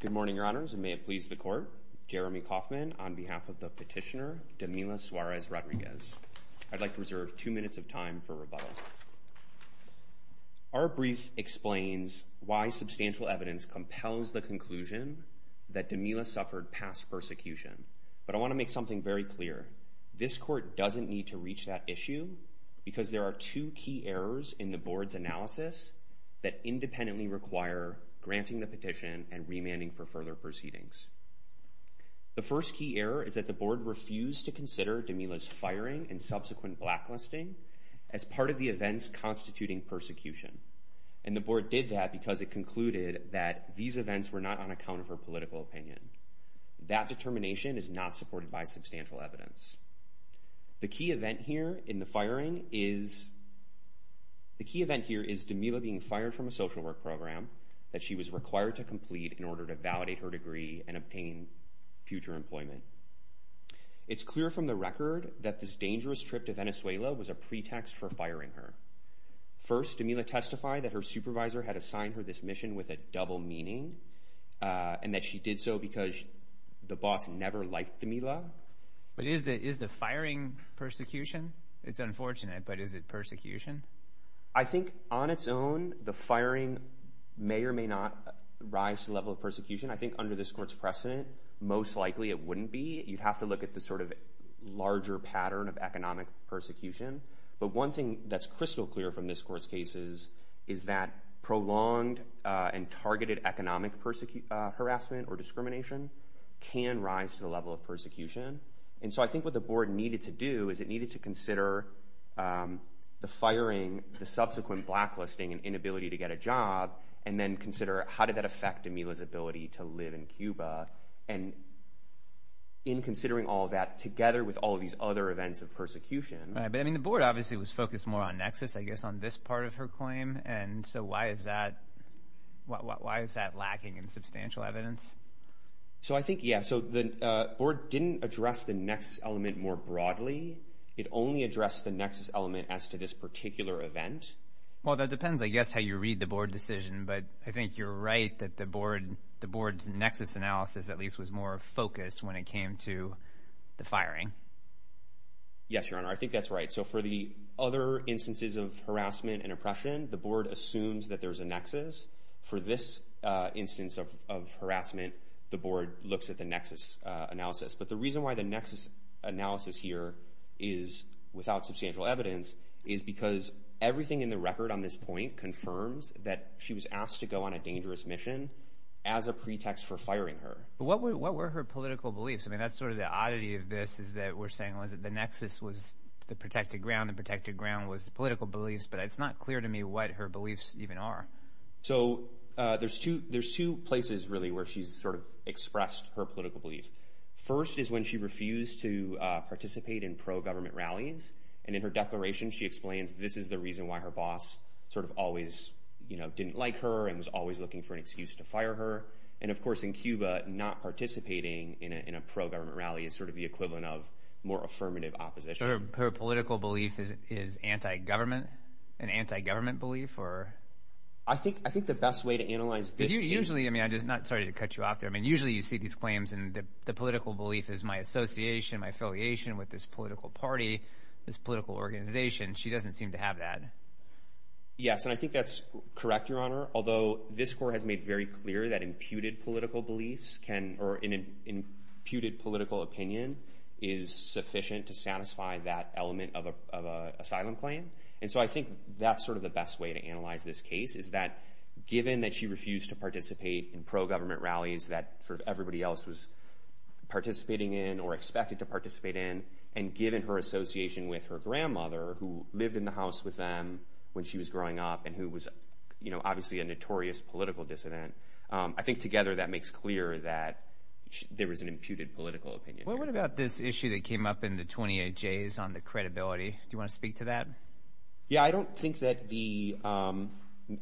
Good morning, your honors. It may have pleased the court. Jeremy Kaufman on behalf of the petitioner, Demila Suarez Rodriguez. I'd like to reserve two minutes of time for rebuttal. Our brief explains why substantial evidence compels the conclusion that Demila suffered past persecution. But I want to make something very clear. This court doesn't need to reach that issue because there are two key errors in the board's analysis that independently require granting the petition and remanding for further proceedings. The first key error is that the board refused to consider Demila's firing and subsequent blacklisting as part of the events constituting persecution. And the board did that because it concluded that these events were not on account of her political opinion. That determination is not supported by substantial evidence. The key event here in the firing is, the key event here is Demila being fired from a social work program that she was required to complete in order to validate her degree and obtain future employment. It's clear from the record that this dangerous trip to Venezuela was a pretext for firing her. First, Demila testified that her supervisor had assigned her this mission with a double meaning and that she did so because the boss never liked Demila. But is the firing persecution? It's unfortunate, but is it persecution? I think on its own, the firing may or may not rise to the level of persecution. I think under this court's precedent, most likely it wouldn't be. You'd have to look at the sort of larger pattern of economic persecution. But one thing that's crystal clear from this court's case is that prolonged and targeted economic harassment or discrimination can rise to the level of persecution. And so I think what the board needed to do is it needed to consider the firing, the subsequent blacklisting and inability to get a job, and then consider how did that affect Demila's ability to live in Cuba. And in considering all of that together with all of these other events of persecution. Right, but I mean the board obviously was focused more on Nexus, I guess on this part of her claim. And so why is that lacking in substantial evidence? So I think, yeah, so the board didn't address the Nexus element more broadly. It only addressed the Nexus element as to this particular event. Well, that depends, I guess, how you read the board decision. But I think you're right that the board's Nexus analysis at least was more focused when it came to the firing. Yes, Your Honor, I think that's right. So for the other instances of harassment and the board looks at the Nexus analysis. But the reason why the Nexus analysis here is without substantial evidence is because everything in the record on this point confirms that she was asked to go on a dangerous mission as a pretext for firing her. What were her political beliefs? I mean, that's sort of the oddity of this is that we're saying, well, is it the Nexus was the protected ground, the protected ground was political beliefs, but it's not clear to me what her beliefs even are. So there's two places really where she's sort of expressed her political beliefs. First is when she refused to participate in pro-government rallies. And in her declaration, she explains this is the reason why her boss sort of always, you know, didn't like her and was always looking for an excuse to fire her. And of course, in Cuba, not participating in a pro-government rally is sort of the equivalent of more affirmative opposition. So her political belief is anti-government, an anti-government belief or? I think, I think the best way to analyze this usually, I mean, I'm just not sorry to cut you off there. I mean, usually you see these claims and the political belief is my association, my affiliation with this political party, this political organization. She doesn't seem to have that. Yes. And I think that's correct, Your Honor. Although this court has made very clear that imputed political beliefs can, or an imputed political opinion is sufficient to satisfy that element of asylum claim. And so I think that's sort of the best way to analyze this case is that given that she refused to participate in pro-government rallies that sort of everybody else was participating in or expected to participate in, and given her association with her grandmother who lived in the house with them when she was growing up and who was, you know, obviously a notorious political dissident, I think together that makes clear that there was an imputed political opinion. Well, what about this issue that came up in the 28Js on the credibility? Do you want to speak to that? Yeah. I don't think that the, I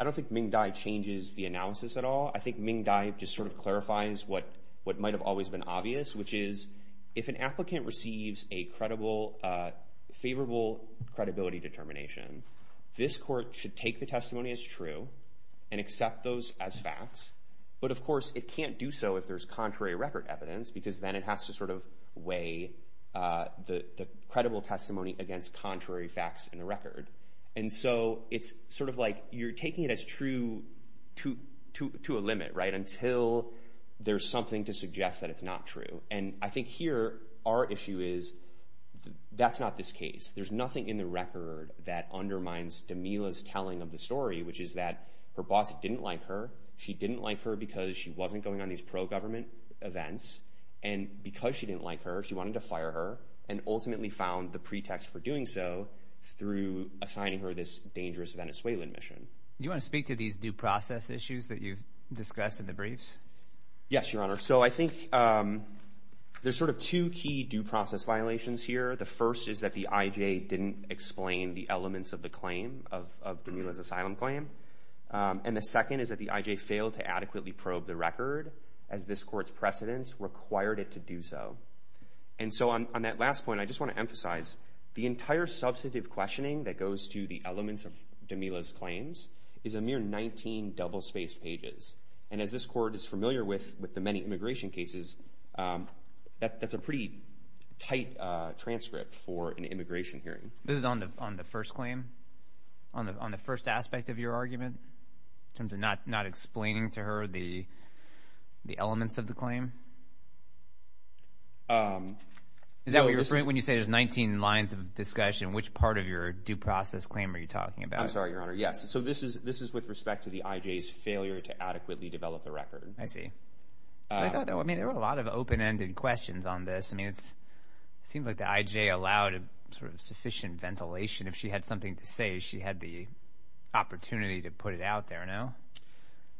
don't think Ming Dai changes the analysis at all. I think Ming Dai just sort of clarifies what, what might've always been obvious, which is if an applicant receives a credible, favorable credibility determination, this court should take the testimony as true and accept those as facts. But of course it can't do so if there's contrary record evidence, because then it has to sort of weigh the, the credible testimony against contrary facts in the record. And so it's sort of like you're taking it as true to, to, to a limit, right? Until there's something to suggest that it's not true. And I think here our issue is that's not this case. There's nothing in the record that undermines Demila's telling of the story, which is that her boss didn't like her. She didn't like her because she wasn't going on these pro-government events. And because she didn't like her, she wanted to fire her and ultimately found the pretext for doing so through assigning her this dangerous Venezuelan mission. Do you want to speak to these due process issues that you've discussed in the briefs? Yes, your honor. So I think, um, there's sort of two key due process violations here. The first is that the IJ didn't explain the elements of the claim of, of Demila's asylum claim. And the second is that the IJ failed to adequately probe the record as this court's precedents required it to do so. And so on, on that last point, I just want to emphasize the entire substantive questioning that goes to the elements of Demila's claims is a mere 19 double-spaced pages. And as this court is familiar with, with the many immigration cases, um, that, that's a pretty tight, uh, transcript for an immigration hearing. This is on the, on the first claim? On the, on the first aspect of your argument? In terms of not, not explaining to her the, the elements of the claim? Um, Is that what you're referring, when you say there's 19 lines of discussion, which part of your due process claim are you talking about? I'm sorry, your honor. Yes. So this is, this is with respect to the IJ's failure to adequately develop the record. I see. I thought, I mean, there were a lot of open-ended questions on this. I mean, it's, it seems like the IJ allowed a sort of sufficient ventilation. If she had something to say, she had the opportunity to put it out there, no?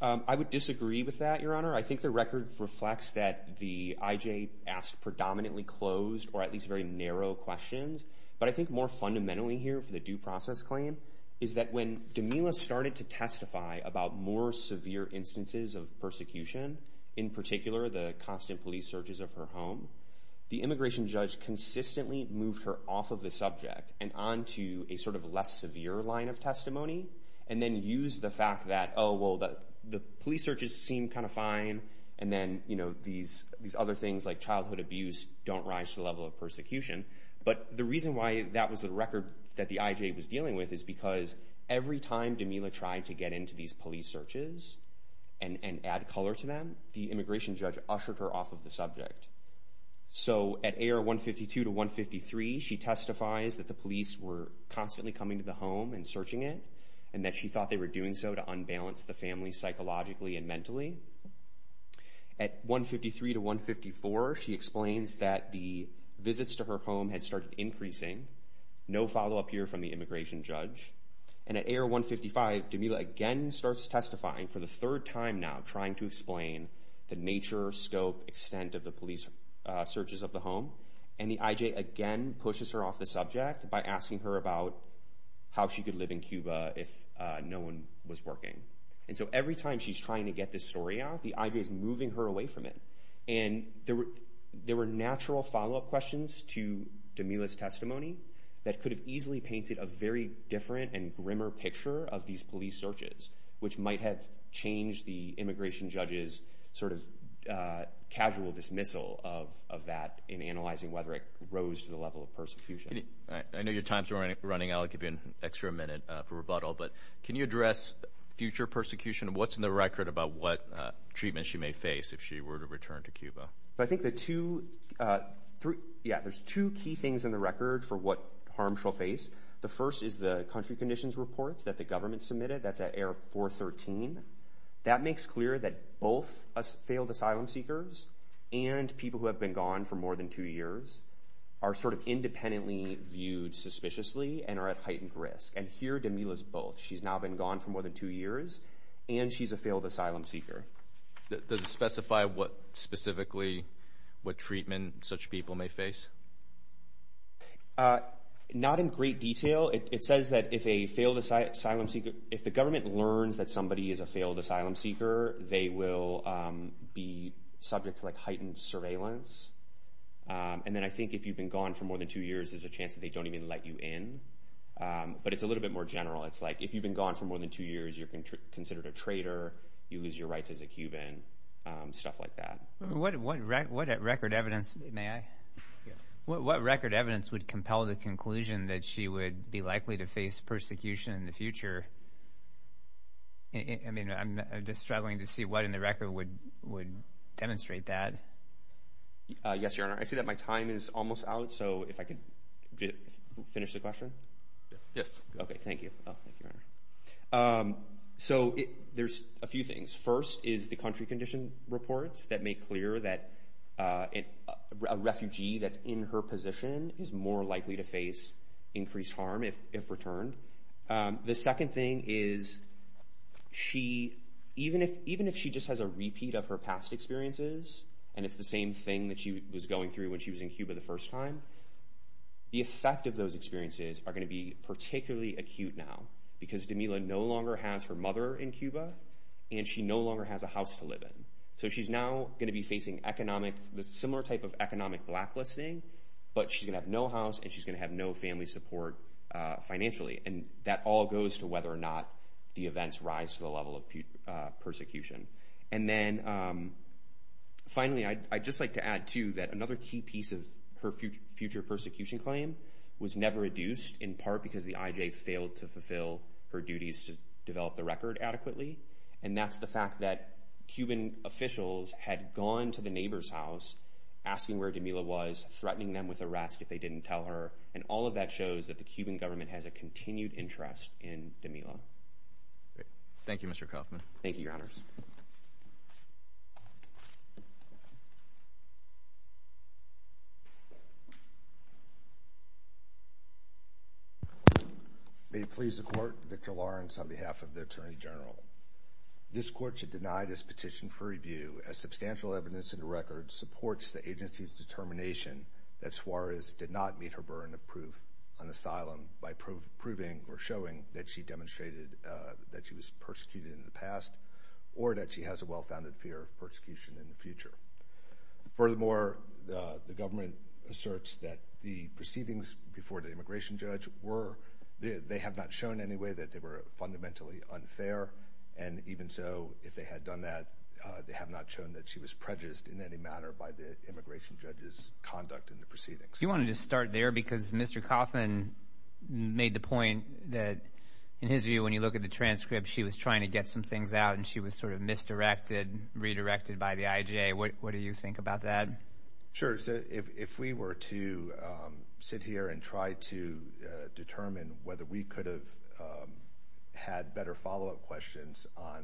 Um, I would disagree with that, your honor. I think the record reflects that the IJ asked predominantly closed or at least very narrow questions. But I think more fundamentally here for the due process claim is that when Demila started to testify about more severe instances of persecution, in particular, the constant police searches of her home, the immigration judge consistently moved her off of the subject and onto a sort of less severe line of testimony. And then use the fact that, oh, well, the police searches seem kind of fine. And then, you know, these, these other things like childhood abuse don't rise to the level of persecution. But the reason why that was the record that the IJ was dealing with is because every time Demila tried to get into these police searches and, and add color to them, the immigration judge ushered her off of the subject. So at AR 152 to 153, she testifies that the police were constantly coming to the home and searching it and that she thought they were doing so to unbalance the family psychologically and mentally. At 153 to 154, she explains that the visits to her home had started increasing. No follow-up here from the immigration judge. And at AR 155, Demila again starts testifying for the third time now, trying to explain the nature, scope, extent of the police searches of the home. And the IJ again pushes her off the subject by asking her about how she could live in Cuba if no one was working. And so every time she's trying to get this story out, the IJ is moving her away from it. And there were, there were natural follow-up questions to Demila's testimony that could have easily painted a very different and grimmer picture of these police searches, which might have changed the immigration judge's sort of casual dismissal of, of that in analyzing whether it rose to the level of persecution. I know your time's running out. I'll give you an extra minute for rebuttal. But can you address future persecution? What's in the record about what treatment she may face if she were to return to Cuba? I think the two, three, yeah, there's two key things in the record for what harm she'll face. The first is the country conditions reports that the government submitted. That's at AR 413. That makes clear that both failed asylum seekers and people who have been gone for more than two years are sort of independently viewed suspiciously and are at heightened risk. And here Demila's both. She's now been gone for more than two years and she's a failed asylum seeker. Does it specify what specifically, what treatment such people may face? Not in great detail. It says that if a failed asylum seeker, if the government learns that somebody is a failed asylum seeker, they will be subject to like heightened surveillance. And then I think if you've been gone for more than two years, there's a chance that they don't even let you in. But it's a little bit more general. It's like if you've been gone for more than two years, you're considered a traitor. You lose your rights as a Cuban. Stuff like that. What record evidence, may I? What record evidence would compel the conclusion that she would be likely to face persecution in the future? I mean, I'm just struggling to see what in the record would demonstrate that. Yes, Your Honor. I see that my time is almost out. So if I could finish the question. Yes. Okay, thank you. So there's a few things. First is the country condition reports that make clear that a refugee that's in her position is more likely to face increased harm if returned. The second thing is, even if she just has a repeat of her past experiences, and it's the same thing that she was going through when she was in Cuba the first time, the effect of those experiences are going to be particularly acute now. Because Demila no longer has her mother in Cuba, and she no longer has a house to live in. So she's now going to be facing economic, a similar type of economic blacklisting, but she's going to have no house and she's going to have no family support financially. And that all goes to whether or not the events rise to the level of persecution. And then, finally, I'd just like to add, too, that another key piece of her future persecution claim was never reduced, in part because the IJ failed to fulfill her duties to develop the record adequately. And that's the fact that Cuban officials had gone to the neighbor's house asking where Demila was, threatening them with arrest if they didn't tell her. And all of that shows that the Cuban government has a continued interest in Demila. Thank you, Mr. Kaufman. Thank you, Your Honors. May it please the Court, Victor Lawrence on behalf of the Attorney General. This Court should deny this petition for review as substantial evidence in the record supports the agency's determination that Suarez did not meet her burden of proof on asylum by proving or showing that she demonstrated that she was persecuted in the past or that she has a well-founded fear of persecution in the future. Furthermore, the government asserts that the proceedings before the immigration judge were – they have not shown in any way that they were fundamentally unfair. And even so, if they had done that, they have not shown that she was prejudiced in any manner by the immigration judge's conduct in the proceedings. You wanted to start there because Mr. Kaufman made the point that, in his view, when you look at the transcript, she was trying to get some things out and she was sort of misdirected, redirected by the IJA. What do you think about that? Sure. So if we were to sit here and try to determine whether we could have had better follow-up questions on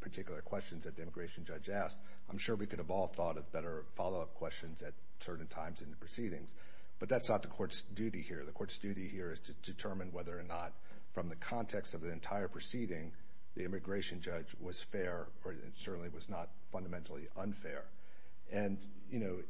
particular questions that the immigration judge asked, I'm sure we could have all thought of better follow-up questions at certain times in the proceedings. But that's not the Court's duty here. The Court's duty here is to determine whether or not, from the context of the entire proceeding, the immigration judge was fair or certainly was not fundamentally unfair. And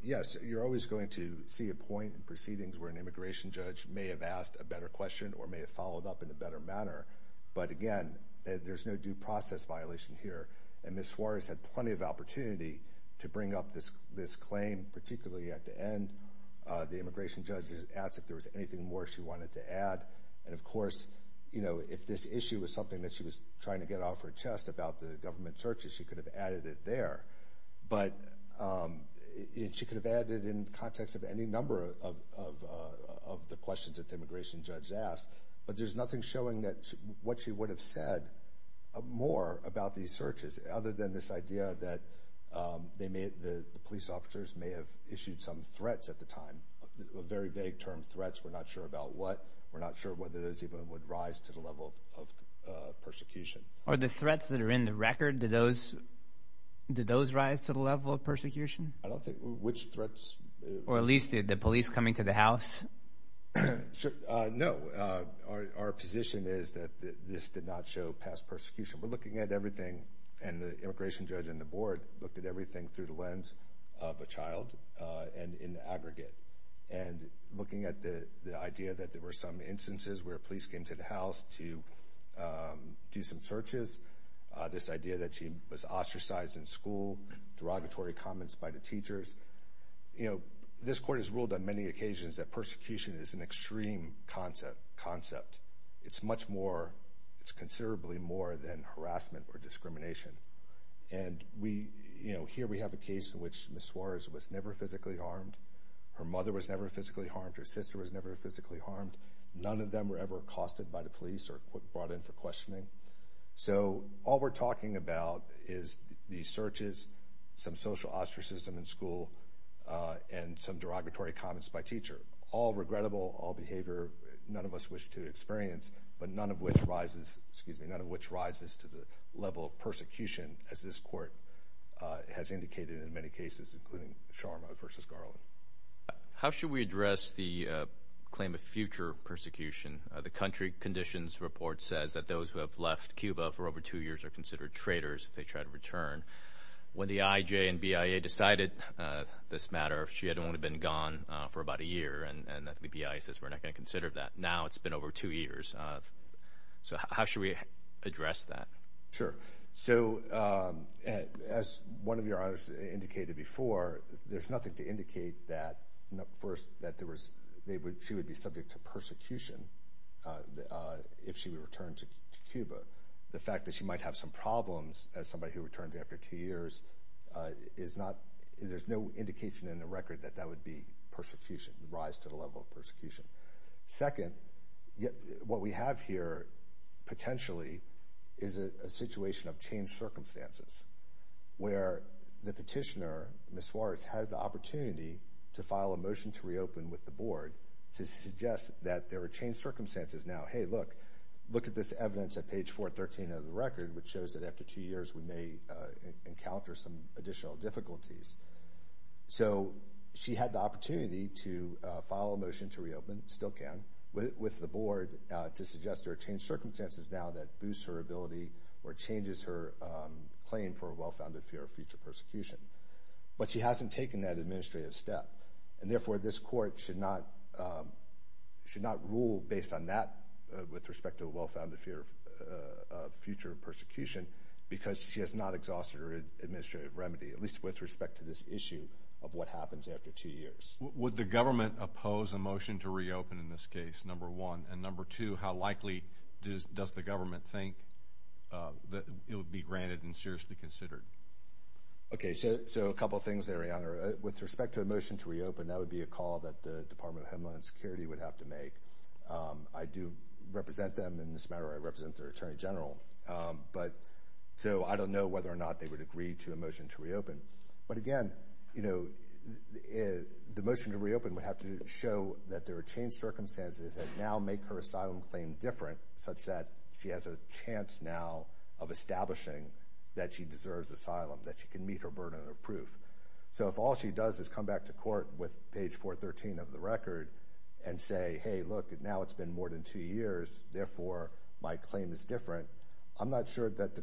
yes, you're always going to see a point in proceedings where an immigration judge may have asked a better question or may have followed up in a better manner. But again, there's no due process violation here. And Ms. Suarez had plenty of opportunity to bring up this claim, particularly at the end. The immigration judge asked if there was anything more she wanted to add. And of course, if this issue was something that she was trying to get off her chest about the government searches, she could have added it there. But she could have added it in the context of any number of the questions that the immigration judge asked. But there's nothing showing that what she would have said more about these searches other than this idea that the police officers may have issued some threats at the time. Very vague term threats. We're not sure about what. We're not sure whether those even would rise to the level of persecution. Are the threats that are in the record, did those rise to the level of persecution? I don't think. Which threats? Or at least did the police coming to the house? No. Our position is that this did not show past persecution. We're looking at everything and the immigration judge and the board looked at everything through the lens of a child and in the aggregate. And looking at the idea that there were some instances where police came to the house to do some searches, this idea that she was ostracized in school, derogatory comments by the teachers. You know, this court has ruled on many occasions that persecution is an extreme concept. It's much more, it's considerably more than harassment or discrimination. And we, you know, here we have a case in which Ms. Suarez was never physically harmed. Her mother was never physically harmed. Her sister was never physically harmed. None of them were ever accosted by the police or brought in for questioning. So all we're talking about is the searches, some social ostracism in school, and some derogatory comments by teacher. All regrettable, all behavior none of us wish to experience, but none of which rises, excuse me, to the level of persecution, as this court has indicated in many cases, including Sharma versus Garland. How should we address the claim of future persecution? The country conditions report says that those who have left Cuba for over two years are considered traitors if they try to return. When the IJ and BIA decided this matter, she had only been gone for about a year and the BIA says we're not going to consider that. Now it's been over two years. So how should we address that? Sure. So as one of your others indicated before, there's nothing to indicate that, first, that there was, she would be subject to persecution if she were to return to Cuba. The fact that she might have some problems as somebody who returns after two years is not, there's no indication in the record that that would be persecution, rise to the level of persecution. Second, what we have here potentially is a situation of changed circumstances where the petitioner, Ms. Swartz, has the opportunity to file a motion to reopen with the board to suggest that there are changed circumstances now. Hey, look, look at this evidence at page 413 of the record, which shows that after two years we may encounter some additional difficulties. So she had the opportunity to file a motion to reopen, still can, with the board to suggest there are changed circumstances now that boosts her ability or changes her claim for a well-founded fear of future persecution. But she hasn't taken that administrative step and therefore this court should not rule based on that with respect to a well-founded fear of future persecution because she has not exhausted her administrative remedy, at least with respect to this issue of what happens after two years. Would the government oppose a motion to reopen in this case, number one? And number two, how likely does the government think that it would be granted and seriously considered? Okay, so a couple things there, Your Honor. With respect to a motion to reopen, that would be a call that the Department of Homeland Security would have to make. I do represent them in this matter. I represent their Attorney General. So I don't know whether or not they would agree to a motion to reopen. But again, the motion to reopen would have to show that there are changed circumstances that now make her asylum claim different such that she has a chance now of establishing that she deserves asylum, that she can meet her burden of proof. So if all she does is come back to court with page 413 of the record and say, hey, look, now it's been more than two years, therefore my claim is different, I'm not sure that the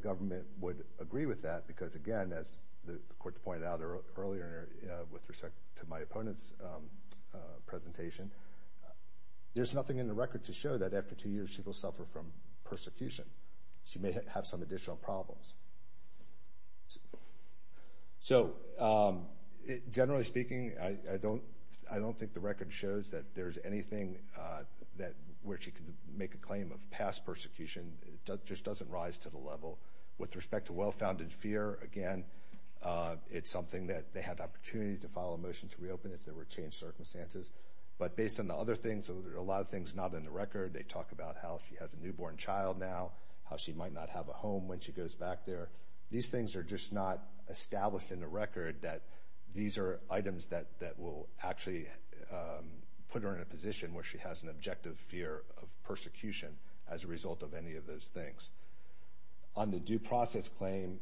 case, again, as the Court's pointed out earlier with respect to my opponent's presentation, there's nothing in the record to show that after two years she will suffer from persecution. She may have some additional problems. So generally speaking, I don't think the record shows that there's anything where she can make a claim of past persecution. It just doesn't rise to the level. With respect to well-founded fear, again, it's something that they had the opportunity to file a motion to reopen if there were changed circumstances. But based on the other things, there are a lot of things not in the record. They talk about how she has a newborn child now, how she might not have a home when she goes back there. These things are just not established in the record that these are items that will actually put her in a position where she has an objective fear of persecution as a result of any of those things. On the due process claim,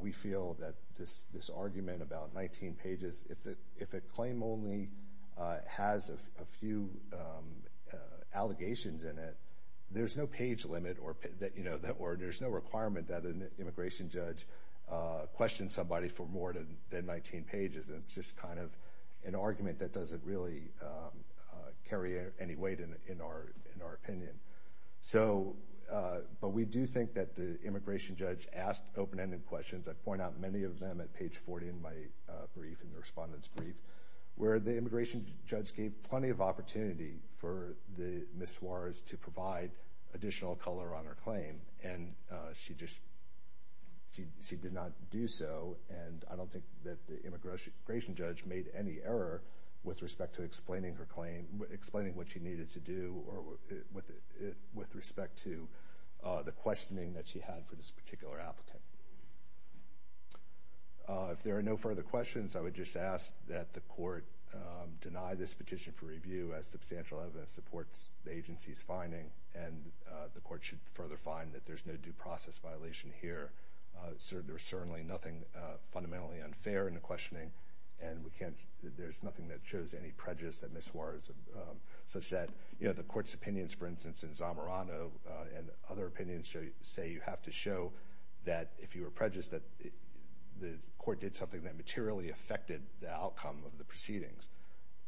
we feel that this argument about 19 pages, if a claim only has a few allegations in it, there's no page limit or there's no requirement that an immigration judge question somebody for more than 19 pages. It's just kind of an argument that doesn't really carry any weight in our opinion. But we do think that the immigration judge asked open-ended questions. I point out many of them at page 40 in my brief, in the respondent's brief, where the immigration judge gave plenty of opportunity for the Ms. Suarez to provide additional color on her claim, and she did not do so, and I don't think that the immigration judge made any error with respect to explaining her claim, explaining what she needed to do, or with respect to the questioning that she had for this particular applicant. If there are no further questions, I would just ask that the court deny this petition for review as substantial evidence supports the agency's claim, and the court should further find that there's no due process violation here. There's certainly nothing fundamentally unfair in the questioning, and there's nothing that shows any prejudice that Ms. Suarez – such that the court's opinions, for instance, in Zamorano and other opinions say you have to show that if you were prejudiced that the court did something that materially affected the outcome of the proceedings,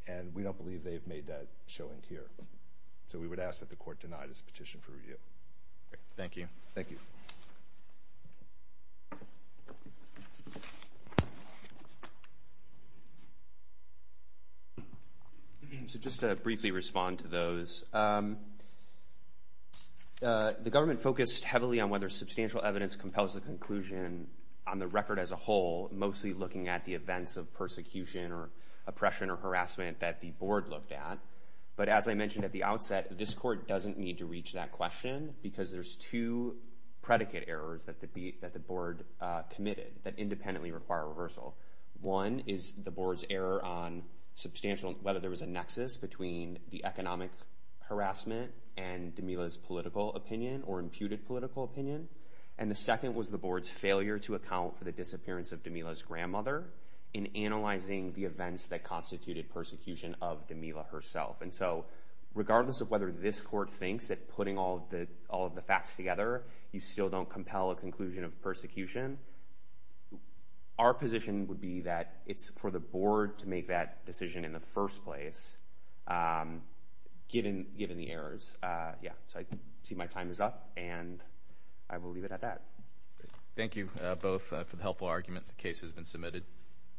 and we don't believe they've made that showing here. So we would ask that the court deny this petition for review. Thank you. Thank you. So just to briefly respond to those, the government focused heavily on whether substantial evidence compels the conclusion on the record as a whole, mostly looking at the events of persecution or oppression or harassment that the board looked at. But as I mentioned at the outset, this court doesn't need to reach that question because there's two predicate errors that the board committed that independently require reversal. One is the board's error on substantial – whether there was a nexus between the economic harassment and Damila's political opinion, or imputed political opinion. And the second was the board's failure to account for the disappearance of Damila's grandmother in analyzing the events that constituted persecution of Damila herself. And so regardless of whether this court thinks that putting all of the facts together, you still don't compel a conclusion of persecution, our position would be that it's for the board to make that decision in the first place, given the errors. Yeah. So I see my time is up, and I will leave it at that. Thank you both for the helpful argument. The case has been submitted.